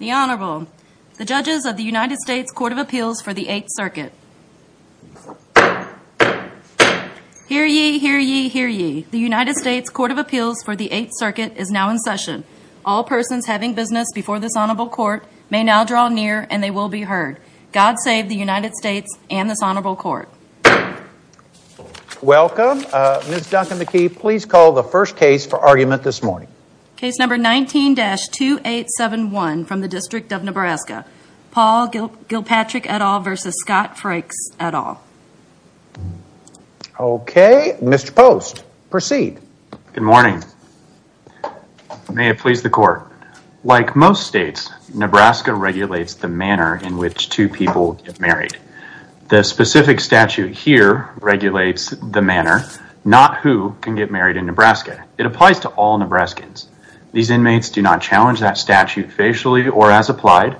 The Honorable, the Judges of the United States Court of Appeals for the Eighth Circuit. Hear ye, hear ye, hear ye. The United States Court of Appeals for the Eighth Circuit is now in session. All persons having business before this Honorable Court may now draw near and they will be heard. God save the United States and this Honorable Court. Welcome. Ms. Duncan-McKee, please call the first case for argument this morning. Case number 19-2871 from the District of Nebraska. Paul Gillpatrick et al. v. Scott Frakes et al. Okay, Mr. Post, proceed. Good morning. May it please the Court. Like most states, Nebraska regulates the manner in which two people get married. The specific statute here regulates the manner, not who can get married in Nebraska. It applies to all Nebraskans. These inmates do not challenge that statute facially or as applied.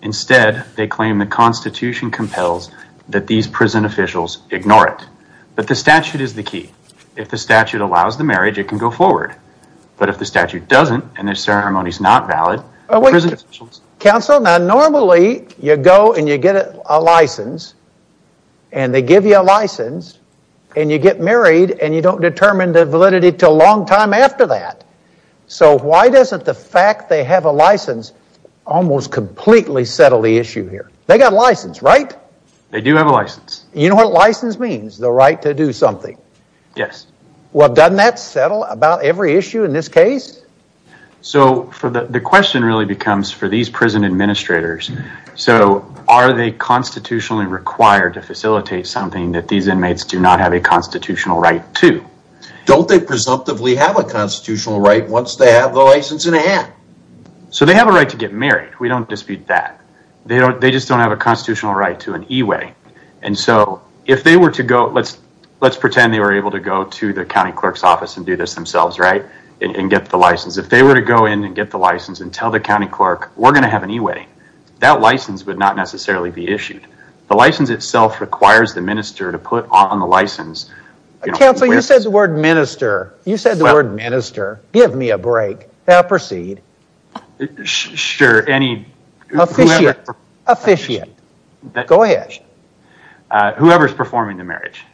Instead, they claim the Constitution compels that these prison officials ignore it. But the statute is the key. If the statute allows the marriage, it can go forward. But if the statute doesn't and the ceremony is not valid, prison officials... Counsel, now normally you go and you get a license and they give you a license and you get married and you don't determine the validity until a long time after that. So why doesn't the fact they have a license almost completely settle the issue here? They got a license, right? They do have a license. You know what license means? The right to do something. Yes. Well, doesn't that settle about every issue in this case? So the question really becomes for these prison administrators, so are they constitutionally required to facilitate something that these inmates do not have a constitutional right to? Don't they presumptively have a constitutional right once they have the license in hand? So they have a right to get married. We don't dispute that. They just don't have a constitutional right to an e-wedding. And so if they were to go... Let's pretend they were able to go to the county clerk's office and do this themselves, right? And get the license. If they were to go in and get the license and tell the county clerk, we're going to have an e-wedding, that license would not necessarily be issued. The license itself requires the minister to put on the license... Counselor, you said the word minister. You said the word minister. Give me a break. Now proceed. Sure, any... Officiate. Go ahead. Whoever's performing the marriage.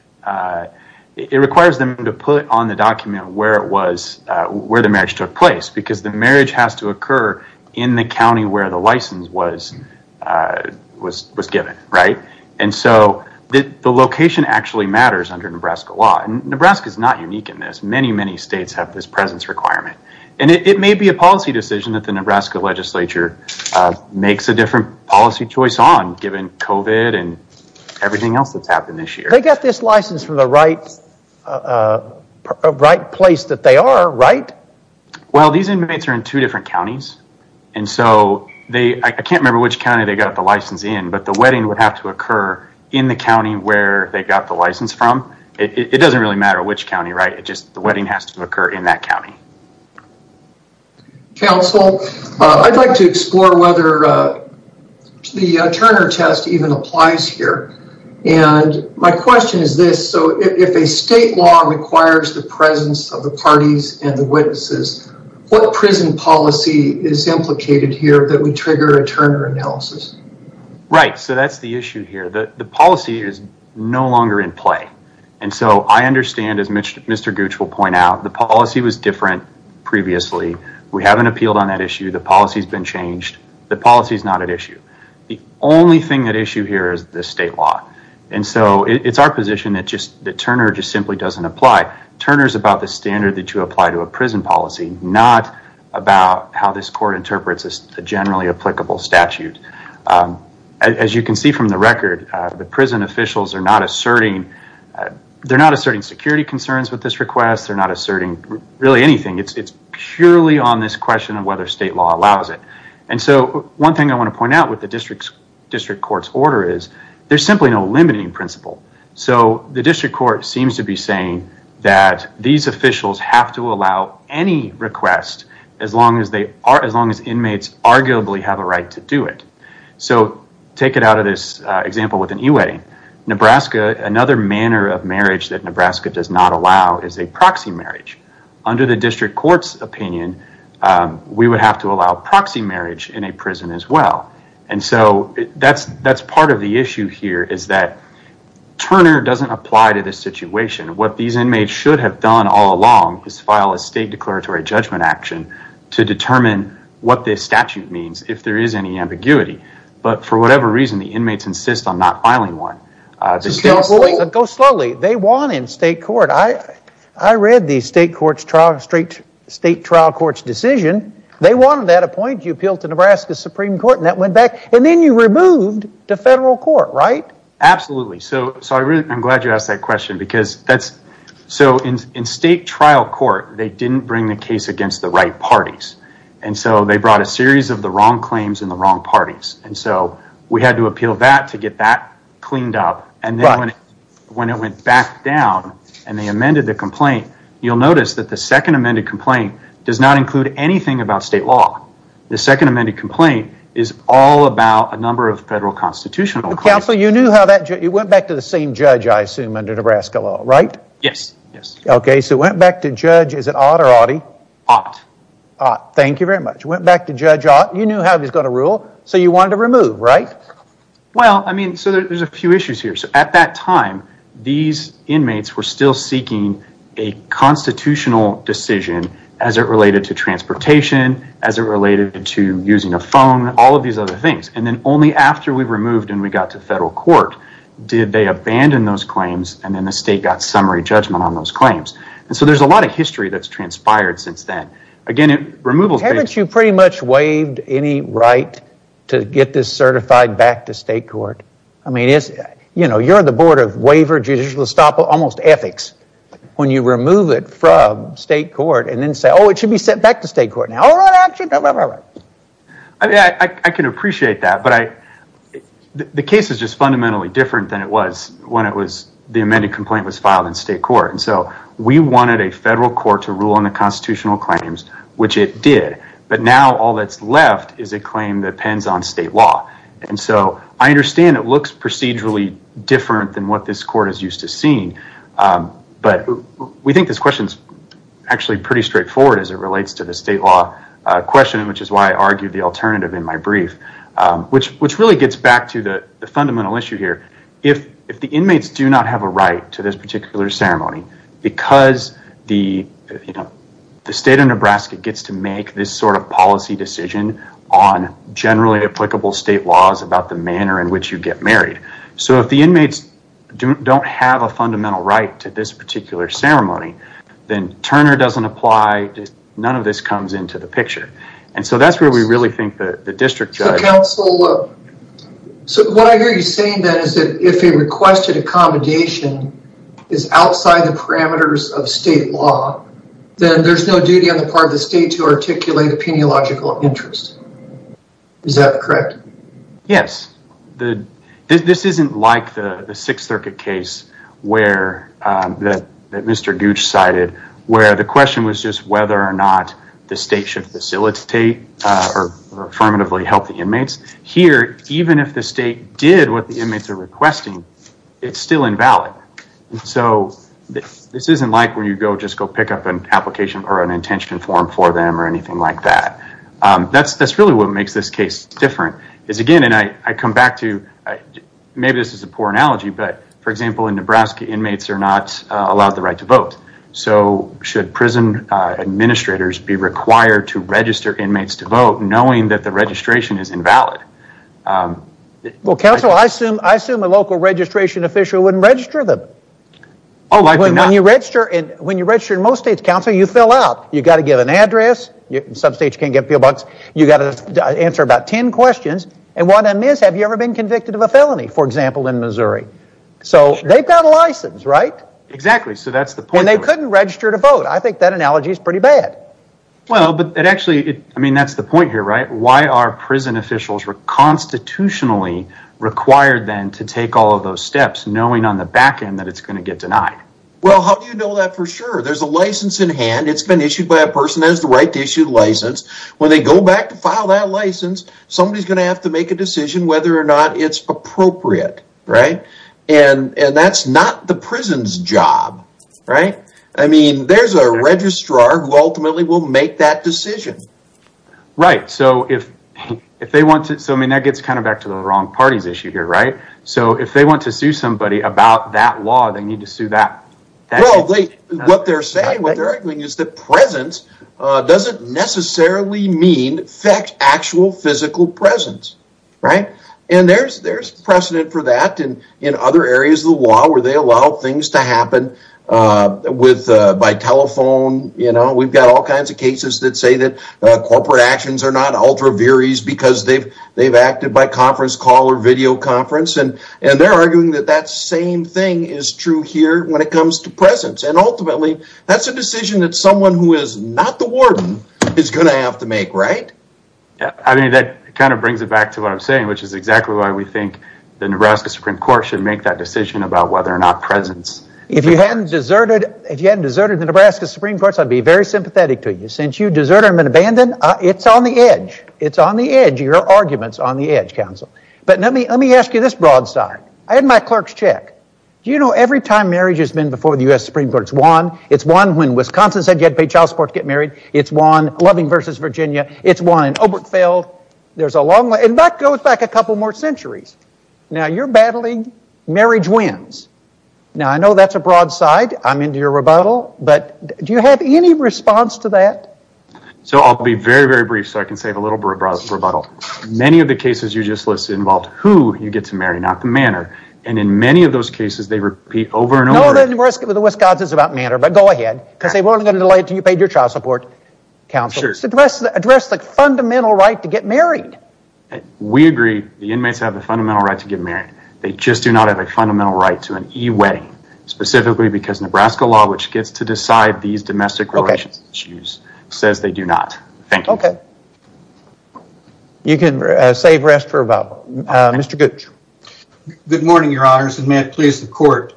It requires them to put on the document where the marriage took place because the marriage has to occur in the county where the license was given, right? And so the location actually matters under Nebraska law. And Nebraska's not unique in this. Many, many states have this presence requirement. And it may be a policy decision that the Nebraska legislature makes a different policy choice on given COVID and everything else that's happened this year. They got this license from the right place that they are, right? Well, these inmates are in two different counties. And so they... I can't remember which county they got the license in, but the wedding would have to occur in the county where they got the license from. It doesn't really matter which county, right? It's just the wedding has to occur in that county. Counsel, I'd like to explore whether the Turner test even applies here. And my question is this. So if a state law requires the presence of the parties and the witnesses, what prison policy is implicated here that would trigger a Turner analysis? Right, so that's the issue here. The policy is no longer in play. And so I understand, as Mr. Gooch will point out, the policy was different previously. We haven't appealed on that issue. The policy's been changed. The policy's not at issue. The only thing at issue here is the state law. And so it's our position that Turner just simply doesn't apply. Turner's about the standard that you apply to a prison policy, not about how this court interprets a generally applicable statute. As you can see from the record, the prison officials are not asserting... they're not asserting security concerns with this request. They're not asserting really anything. It's purely on this question of whether state law allows it. And so one thing I want to point out with the district court's order is there's simply no limiting principle. So the district court seems to be saying that these officials have to allow any request as long as inmates arguably have a right to do it. So take it out of this example with an e-wedding. Nebraska, another manner of marriage that Nebraska does not allow is a proxy marriage. Under the district court's opinion, we would have to allow proxy marriage in a prison as well. And so that's part of the issue here is that Turner doesn't apply to this situation. What these inmates should have done all along is file a state declaratory judgment action to determine what this statute means, if there is any ambiguity. But for whatever reason, the inmates insist on not filing one. Go slowly. They want in state court. I read the state trial court's decision. They wanted that appointed. You appealed to Nebraska's Supreme Court and that went back. And then you removed to federal court, right? Absolutely. So I'm glad you asked that question. So in state trial court, they didn't bring the case against the right parties. And so they brought a series of the wrong claims and the wrong parties. And so we had to appeal that to get that cleaned up. And then when it went back down and they amended the complaint, you'll notice that the second amended complaint does not include anything about state law. The second amended complaint is all about a number of federal constitutional claims. Counsel, you went back to the same judge, I assume, under Nebraska law, right? Yes. Okay, so went back to judge, is it Ott or Otte? Ott. Ott, thank you very much. Went back to judge Ott, you knew how he was going to rule, so you wanted to remove, right? Well, I mean, so there's a few issues here. So at that time, these inmates were still seeking a constitutional decision as it related to transportation, as it related to using a phone, all of these other things. And then only after we removed and we got to federal court did they abandon those claims and then the state got summary judgment on those claims. And so there's a lot of history that's transpired since then. Again, removals... Haven't you pretty much waived any right to get this certified back to state court? I mean, you're on the board of waiver, judicial estoppel, almost ethics. When you remove it from state court and then say, oh, it should be sent back to state court now. All right, action. I can appreciate that, but the case is just fundamentally different than it was when the amended complaint was filed in state court. And so we wanted a federal court to rule on the constitutional claims, which it did. But now all that's left is a claim that depends on state law. And so I understand it looks procedurally different than what this court is used to seeing. But we think this question is actually pretty straightforward as it relates to the state law question, which is why I argued the alternative in my brief, which really gets back to the fundamental issue here. If the inmates do not have a right to this particular ceremony because the state of Nebraska gets to make this sort of policy decision on generally applicable state laws about the manner in which you get married. So if the inmates don't have a fundamental right to this particular ceremony, then Turner doesn't apply. None of this comes into the picture. And so that's where we really think the district judge. So what I hear you saying then is that if a requested accommodation is outside the parameters of state law, then there's no duty on the part of the state to articulate the peniological interest. Is that correct? Yes. This isn't like the Sixth Circuit case that Mr. Gooch cited where the question was just whether or not the state should facilitate or affirmatively help the inmates. Here, even if the state did what the inmates are requesting, it's still invalid. So this isn't like where you just go pick up an application or an intention form for them or anything like that. That's really what makes this case different. Again, and I come back to maybe this is a poor analogy, but, for example, in Nebraska, inmates are not allowed the right to vote. So should prison administrators be required to register inmates to vote knowing that the registration is invalid? Well, counsel, I assume a local registration official wouldn't register them. Oh, likely not. When you register in most states, counsel, you fill out. You've got to give an address. In some states, you can't get a P.O. Box. You've got to answer about ten questions. And one of them is, have you ever been convicted of a felony, for example, in Missouri? So they've got a license, right? Exactly, so that's the point. And they couldn't register to vote. I think that analogy is pretty bad. Well, but it actually, I mean, that's the point here, right? Why are prison officials constitutionally required then to take all of those steps knowing on the back end that it's going to get denied? Well, how do you know that for sure? There's a license in hand. It's been issued by a person that has the right to issue the license. When they go back to file that license, somebody's going to have to make a decision whether or not it's appropriate, right? And that's not the prison's job, right? I mean, there's a registrar who ultimately will make that decision. Right, so if they want to, so I mean, that gets kind of back to the wrong parties issue here, right? So if they want to sue somebody about that law, they need to sue that. What they're saying, what they're arguing is that presence doesn't necessarily mean actual physical presence, right? And there's precedent for that in other areas of the law where they allow things to happen by telephone. You know, we've got all kinds of cases that say that corporate actions are not ultra virys because they've acted by conference call or video conference. And they're arguing that that same thing is true here when it comes to presence. And ultimately, that's a decision that someone who is not the warden is going to have to make, right? I mean, that kind of brings it back to what I'm saying, which is exactly why we think the Nebraska Supreme Court should make that decision about whether or not presence. If you hadn't deserted the Nebraska Supreme Court, I'd be very sympathetic to you. Since you deserted them and abandoned, it's on the edge. It's on the edge. Your argument's on the edge, counsel. But let me ask you this broadside. I had my clerk's check. Do you know every time marriage has been before the U.S. Supreme Court, it's won? It's won when Wisconsin said you had to pay child support to get married. It's won Loving v. Virginia. It's won in Obergefell. There's a long way. And that goes back a couple more centuries. Now, you're battling marriage wins. Now, I know that's a broadside. I'm into your rebuttal. But do you have any response to that? So I'll be very, very brief so I can save a little bit of rebuttal. Many of the cases you just listed involved who you get to marry, not the manor. And in many of those cases, they repeat over and over again. No, the Wisconsin is about manor, but go ahead. Because they weren't going to delay it until you paid your child support, counsel. Address the fundamental right to get married. We agree the inmates have the fundamental right to get married. They just do not have a fundamental right to an e-wedding, specifically because Nebraska law, which gets to decide these domestic relations issues, says they do not. Thank you. Okay. You can save rest for rebuttal. Mr. Gooch. Good morning, your honors, and may it please the court.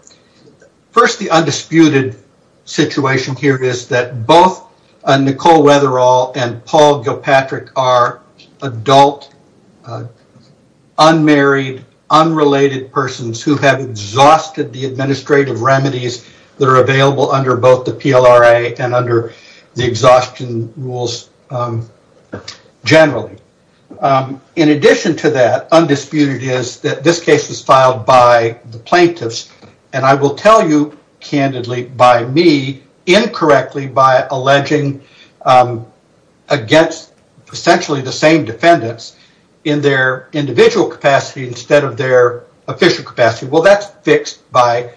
First, the undisputed situation here is that both Nicole Weatherall and Paul Gilpatrick are adult, unmarried, unrelated persons who have exhausted the administrative remedies that are available under both the PLRA and under the exhaustion rules generally. In addition to that, undisputed is that this case was filed by the plaintiffs, and I will tell you candidly by me, incorrectly by alleging against essentially the same defendants in their individual capacity instead of their official capacity. Well, that's fixed by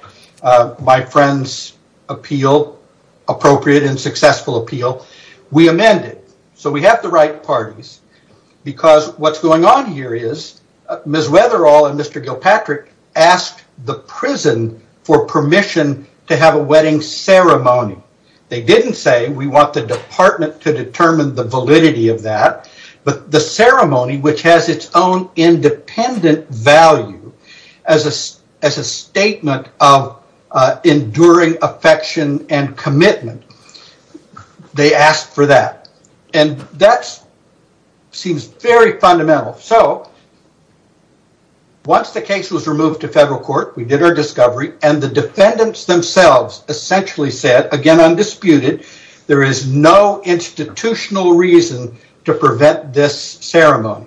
my friend's appropriate and successful appeal. We amend it, so we have the right parties because what's going on here is Ms. Weatherall and Mr. Gilpatrick asked the prison for permission to have a wedding ceremony. They didn't say we want the department to determine the validity of that, but the ceremony, which has its own independent value as a statement of enduring affection and commitment, they asked for that. That seems very fundamental. Once the case was removed to federal court, we did our discovery, and the defendants themselves essentially said, again undisputed, there is no institutional reason to prevent this ceremony.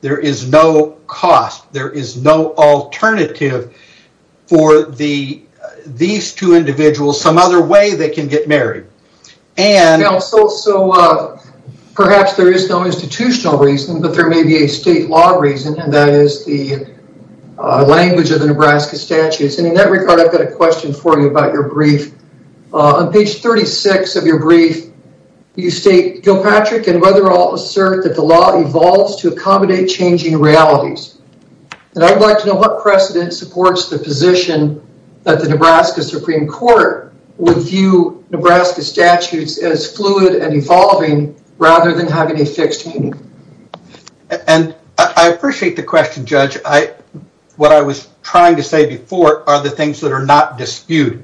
There is no cost. There is no alternative for these two individuals, some other way they can get married. Perhaps there is no institutional reason, but there may be a state law reason, and that is the language of the Nebraska statutes. In that regard, I've got a question for you about your brief. On page 36 of your brief, you state, Gilpatrick and Weatherall assert that the law evolves to accommodate changing realities. I'd like to know what precedent supports the position that the Nebraska Supreme Court would view Nebraska statutes as fluid and evolving rather than having a fixed meaning. I appreciate the question, Judge. What I was trying to say before are the things that are not disputed.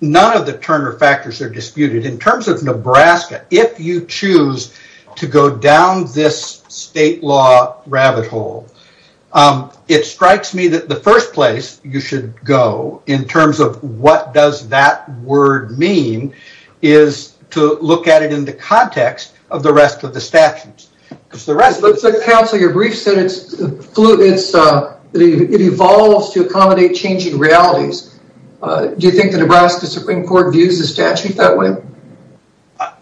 None of the Turner factors are disputed. In terms of Nebraska, if you choose to go down this state law rabbit hole, it strikes me that the first place you should go in terms of what does that word mean is to look at it in the context of the rest of the statutes. Counsel, your brief said it evolves to accommodate changing realities. Do you think the Nebraska Supreme Court views the statute that way?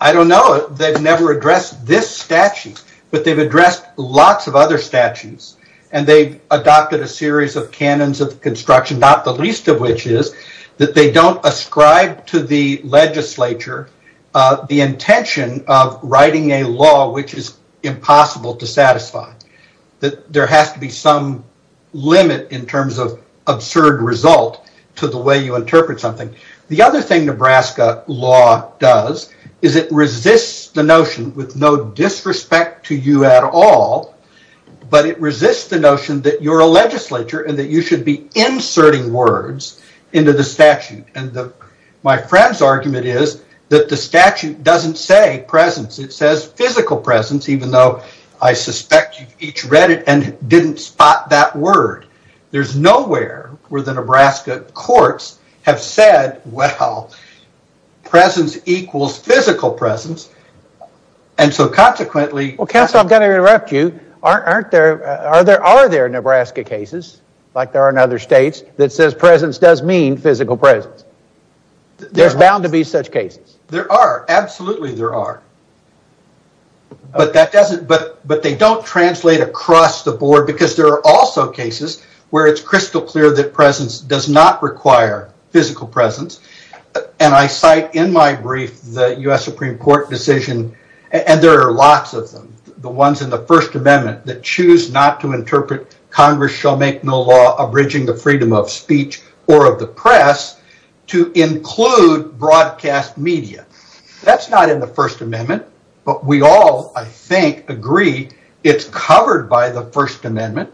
I don't know. They've never addressed this statute, but they've addressed lots of other statutes, and they've adopted a series of canons of construction, not the least of which is that they don't ascribe to the legislature the intention of writing a law which is impossible to satisfy. There has to be some limit in terms of absurd result to the way you interpret something. The other thing Nebraska law does is it resists the notion, with no disrespect to you at all, but it resists the notion that you're a legislature and that you should be inserting words into the statute. My friend's argument is that the statute doesn't say presence. It says physical presence, even though I suspect you've each read it and didn't spot that word. There's nowhere where the Nebraska courts have said, well, presence equals physical presence, and so consequently... Counsel, I'm going to interrupt you. Are there Nebraska cases, like there are in other states, that says presence does mean physical presence? There's bound to be such cases. There are. Absolutely there are. But they don't translate across the board because there are also cases where it's crystal clear that presence does not require physical presence, and I cite in my brief the U.S. Supreme Court decision, and there are lots of them, the ones in the First Amendment that choose not to interpret Congress shall make no law abridging the freedom of speech or of the press to include broadcast media. That's not in the First Amendment, but we all, I think, agree it's covered by the First Amendment,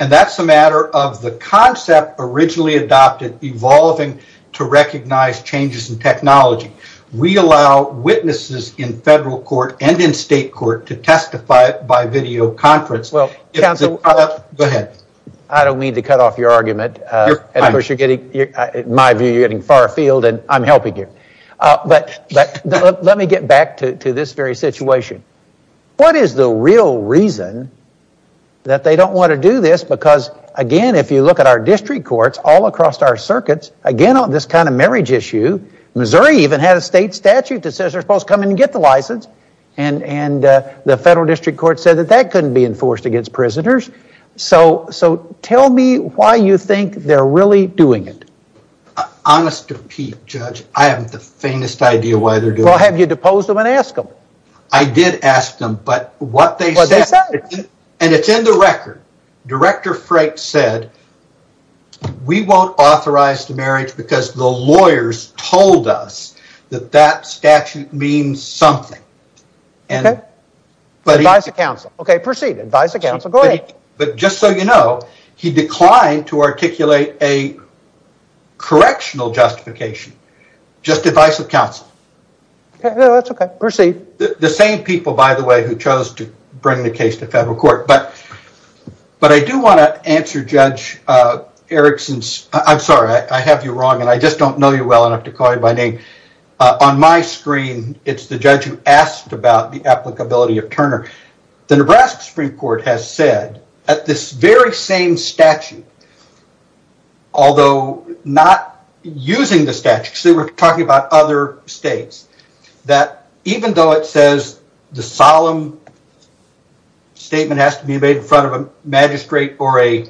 and that's a matter of the concept originally adopted evolving to recognize changes in technology. We allow witnesses in federal court and in state court to testify by video conference. Counsel, I don't mean to cut off your argument. In my view, you're getting far afield, and I'm helping you. But let me get back to this very situation. What is the real reason that they don't want to do this? Because, again, if you look at our district courts, all across our circuits, again on this kind of marriage issue, Missouri even had a state statute that says they're supposed to come in and get the license, and the federal district court said that that couldn't be enforced against prisoners. So tell me why you think they're really doing it. Honest to Pete, Judge, I have the faintest idea why they're doing it. Well, have you deposed them and asked them? I did ask them, but what they said, and it's in the record. Director Freight said, we won't authorize the marriage because the lawyers told us that that statute means something. Advice of counsel. Okay, proceed. Advice of counsel. Go ahead. But just so you know, he declined to articulate a correctional justification. Just advice of counsel. That's okay. Proceed. The same people, by the way, who chose to bring the case to federal court. But I do want to answer Judge Erickson's, I'm sorry, I have you wrong, and I just don't know you well enough to call you by name. On my screen, it's the judge who asked about the applicability of Turner. The Nebraska Supreme Court has said at this very same statute, although not using the statute, because they were talking about other states, that even though it says the solemn statement has to be made in front of a magistrate or a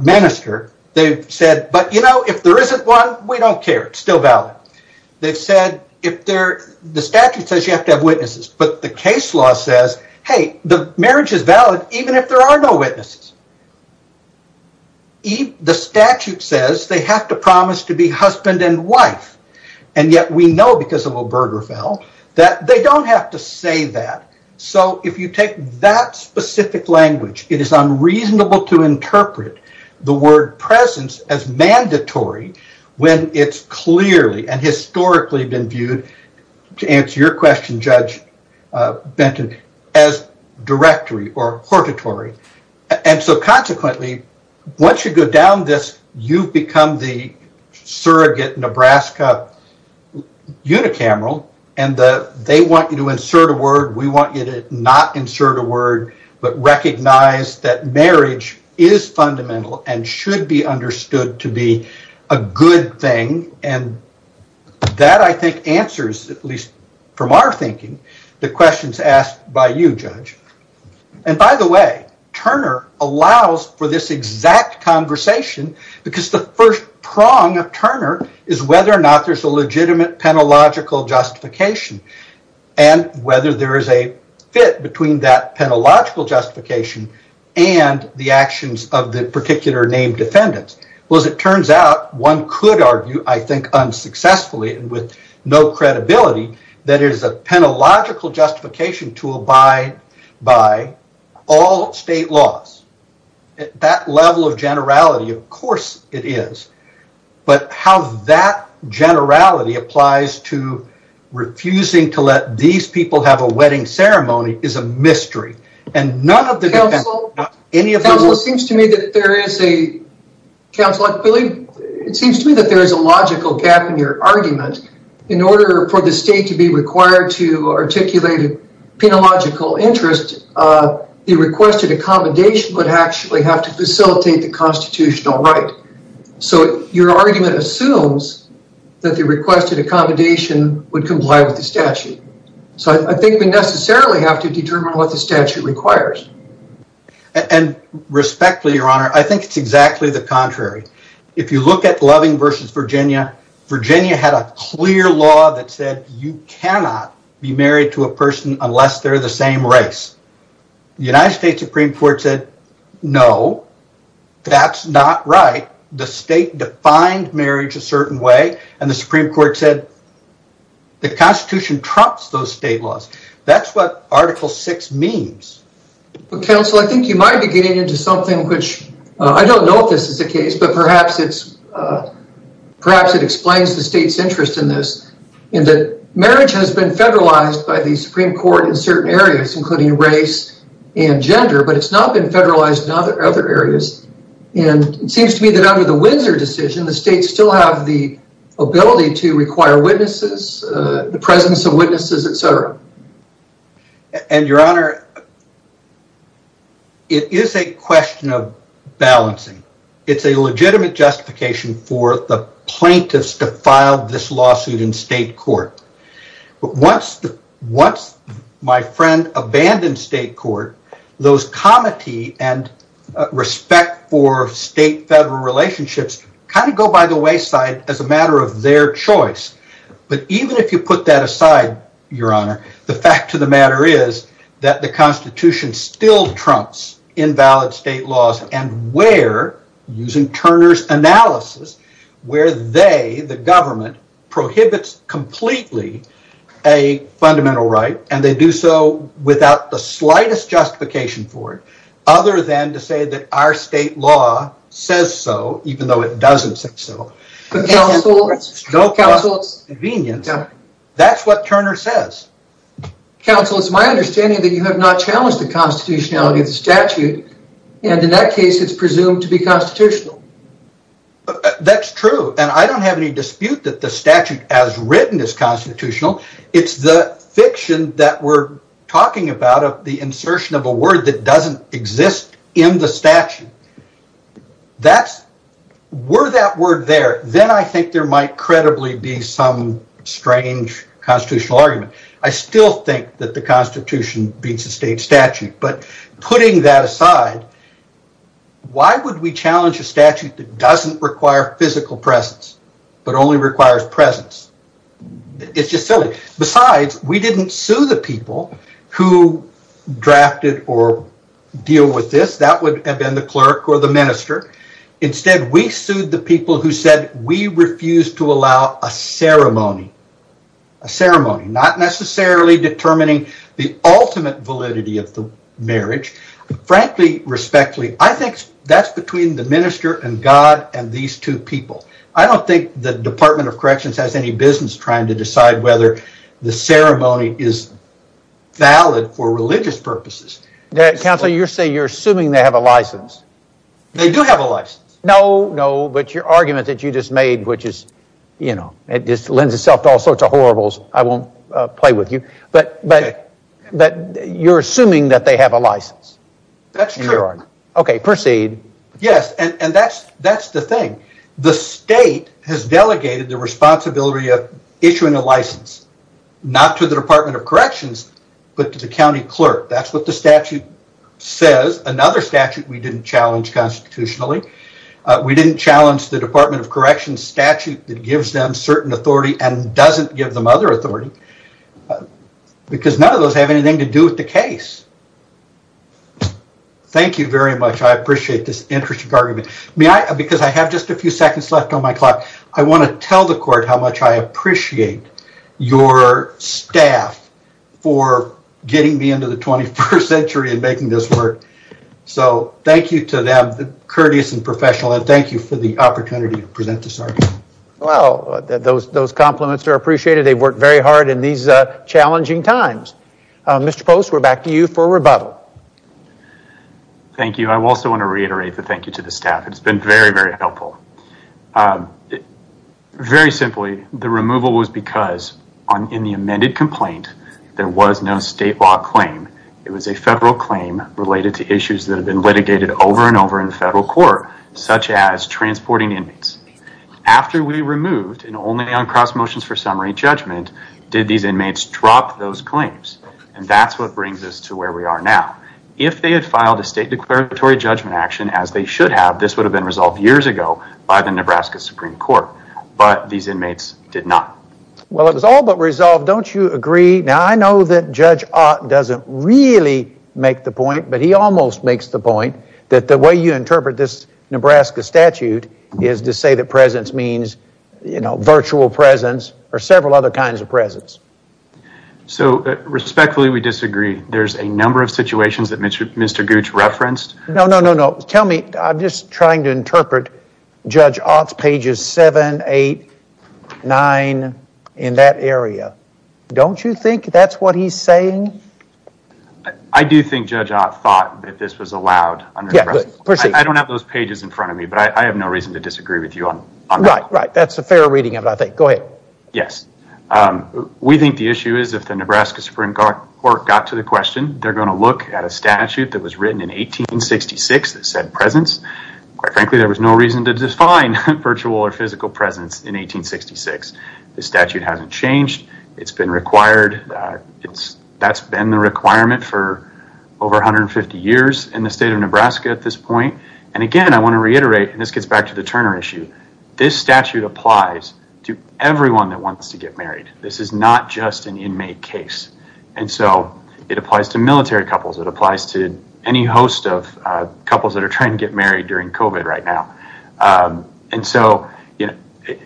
minister, they've said, but you know, if there isn't one, we don't care. It's still valid. They've said, the statute says you have to have witnesses, but the case law says, hey, the marriage is valid even if there are no witnesses. The statute says they have to promise to be husband and wife, and yet we know because of Obergefell that they don't have to say that. So if you take that specific language, it is unreasonable to interpret the word presence as mandatory when it's clearly and historically been viewed, to answer your question, Judge Benton, as directory or hortatory. And so consequently, once you go down this, you've become the surrogate Nebraska unicameral, and they want you to insert a word. We want you to not insert a word, but recognize that marriage is fundamental and should be understood to be a good thing, and that, I think, answers, at least from our thinking, the questions asked by you, Judge. And by the way, Turner allows for this exact conversation because the first prong of Turner is whether or not there's a legitimate penological justification and whether there is a fit between that penological justification and the actions of the particular named defendants. Well, as it turns out, one could argue, I think, unsuccessfully and with no credibility that it is a penological justification to abide by all state laws. At that level of generality, of course it is, but how that generality applies to refusing to let these people have a wedding ceremony is a mystery. Counsel, it seems to me that there is a logical gap in your argument. In order for the state to be required to articulate a penological interest, the requested accommodation would actually have to facilitate the constitutional right. So your argument assumes that the requested accommodation would comply with the statute. So I think we necessarily have to determine what the statute requires. And respectfully, Your Honor, I think it's exactly the contrary. If you look at Loving v. Virginia, Virginia had a clear law that said you cannot be married to a person unless they're the same race. The United States Supreme Court said, no, that's not right. The state defined marriage a certain way, and the Supreme Court said the Constitution trumps those state laws. That's what Article VI means. Counsel, I think you might be getting into something which I don't know if this is the case, but perhaps it explains the state's interest in this. Marriage has been federalized by the Supreme Court in certain areas, including race and gender, but it's not been federalized in other areas. And it seems to me that under the Windsor decision, the states still have the ability to require witnesses, the presence of witnesses, et cetera. And, Your Honor, it is a question of balancing. It's a legitimate justification for the plaintiffs to file this lawsuit in state court. But once my friend abandoned state court, those comity and respect for state-federal relationships kind of go by the wayside as a matter of their choice. But even if you put that aside, Your Honor, the fact of the matter is that the Constitution still trumps invalid state laws and where, using Turner's analysis, where they, the government, prohibits completely a fundamental right, and they do so without the slightest justification for it, other than to say that our state law says so, even though it doesn't say so. But counsel, counsel. That's what Turner says. Counsel, it's my understanding that you have not challenged the constitutionality of the statute, and in that case it's presumed to be constitutional. That's true, and I don't have any dispute that the statute as written is constitutional. It's the fiction that we're talking about of the insertion of a word that doesn't exist in the statute. That's, were that word there, then I think there might credibly be some strange constitutional argument. I still think that the Constitution beats the state statute, but putting that aside, why would we challenge a statute that doesn't require physical presence, but only requires presence? It's just silly. Besides, we didn't sue the people who drafted or deal with this. That would have been the clerk or the minister. Instead, we sued the people who said we refuse to allow a ceremony. A ceremony. Not necessarily determining the ultimate validity of the marriage. Frankly, respectfully, I think that's between the minister and God and these two people. I don't think the Department of Corrections has any business trying to decide whether the ceremony is valid for religious purposes. Counsel, you say you're assuming they have a license. They do have a license. No, no, but your argument that you just made, which just lends itself to all sorts of horribles, I won't play with you, but you're assuming that they have a license. That's true. Okay, proceed. Yes, and that's the thing. The state has delegated the responsibility of issuing a license, not to the Department of Corrections, but to the county clerk. That's what the statute says. Another statute we didn't challenge constitutionally. We didn't challenge the Department of Corrections statute that gives them certain authority and doesn't give them other authority because none of those have anything to do with the case. Thank you very much. I appreciate this interesting argument. Because I have just a few seconds left on my clock, I want to tell the court how much I appreciate your staff for getting me into the 21st century and making this work. Thank you to them, the courteous and professional, and thank you for the opportunity to present this argument. Those compliments are appreciated. They've worked very hard in these challenging times. Mr. Post, we're back to you for rebuttal. Thank you. I also want to reiterate the thank you to the staff. It's been very, very helpful. Very simply, the removal was because in the amended complaint, there was no state law claim. It was a federal claim related to issues that have been litigated over and over in federal court, such as transporting inmates. After we removed, and only on cross motions for summary judgment, did these inmates drop those claims, and that's what brings us to where we are now. If they had filed a state declaratory judgment action, as they should have, this would have been resolved years ago by the Nebraska Supreme Court, but these inmates did not. Well, it was all but resolved. Don't you agree? Now, I know that Judge Ott doesn't really make the point, but he almost makes the point that the way you interpret this Nebraska statute is to say that presence means, you know, virtual presence or several other kinds of presence. So, respectfully, we disagree. There's a number of situations that Mr. Gooch referenced. No, no, no, no. Tell me. I'm just trying to interpret Judge Ott's pages 7, 8, 9 in that area. Don't you think that's what he's saying? I do think Judge Ott thought that this was allowed under Nebraska. I don't have those pages in front of me, but I have no reason to disagree with you on that. Right, right. That's a fair reading of it, I think. Go ahead. Yes. We think the issue is if the Nebraska Supreme Court got to the question, they're going to look at a statute that was written in 1866 that said presence. Quite frankly, there was no reason to define virtual or physical presence in 1866. The statute hasn't changed. It's been required. That's been the requirement for over 150 years in the state of Nebraska at this point. And, again, I want to reiterate, and this gets back to the Turner issue, this statute applies to everyone that wants to get married. This is not just an inmate case. And so it applies to military couples. It applies to any host of couples that are trying to get married during COVID right now. And so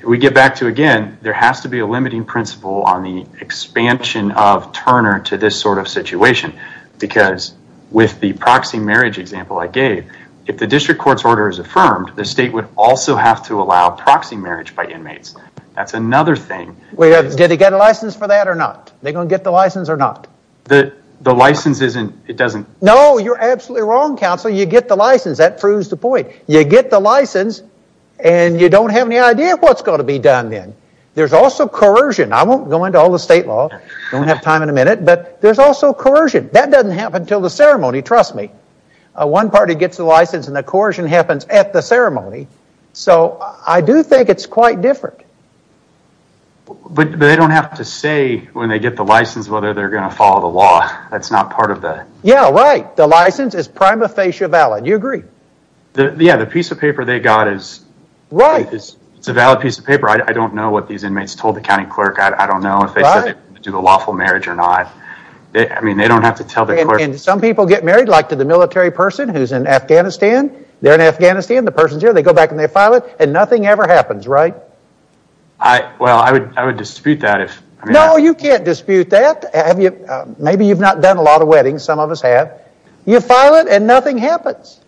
we get back to, again, there has to be a limiting principle on the expansion of Turner to this sort of situation because with the proxy marriage example I gave, if the district court's order is affirmed, the state would also have to allow proxy marriage by inmates. That's another thing. Did they get a license for that or not? Are they going to get the license or not? The license doesn't... No, you're absolutely wrong, counsel. You get the license. That proves the point. You get the license, and you don't have any idea what's going to be done then. There's also coercion. I won't go into all the state law. I don't have time in a minute. But there's also coercion. That doesn't happen until the ceremony, trust me. One party gets the license, and the coercion happens at the ceremony. So I do think it's quite different. But they don't have to say when they get the license whether they're going to follow the law. That's not part of the... Yeah, right. The license is prima facie valid. You agree. Yeah, the piece of paper they got is... Right. It's a valid piece of paper. I don't know what these inmates told the county clerk. I don't know if they said they were going to do the lawful marriage or not. I mean, they don't have to tell the clerk... And some people get married, like to the military person who's in Afghanistan. They're in Afghanistan. The person's here. They go back and they file it, and nothing ever happens, right? Well, I would dispute that if... No, you can't dispute that. Maybe you've not done a lot of weddings. Some of us have. You file it, and nothing happens.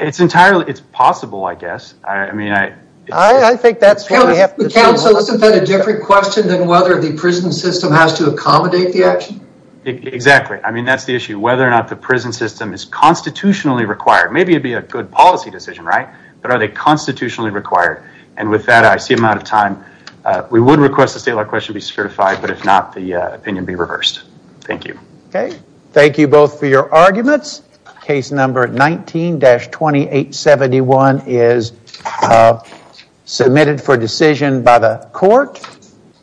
It's entirely... It's possible, I guess. I think that's what we have to... Counsel, isn't that a different question than whether the prison system has to accommodate the action? Exactly. I mean, that's the issue. Whether or not the prison system is constitutionally required. Maybe it'd be a good policy decision, right? But are they constitutionally required? And with that, I see I'm out of time. We would request the state of our question be certified, but if not, the opinion be reversed. Thank you. Okay. Thank you both for your arguments. Case number 19-2871 is submitted for decision by the court.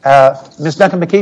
Ms. Duncan-McKee?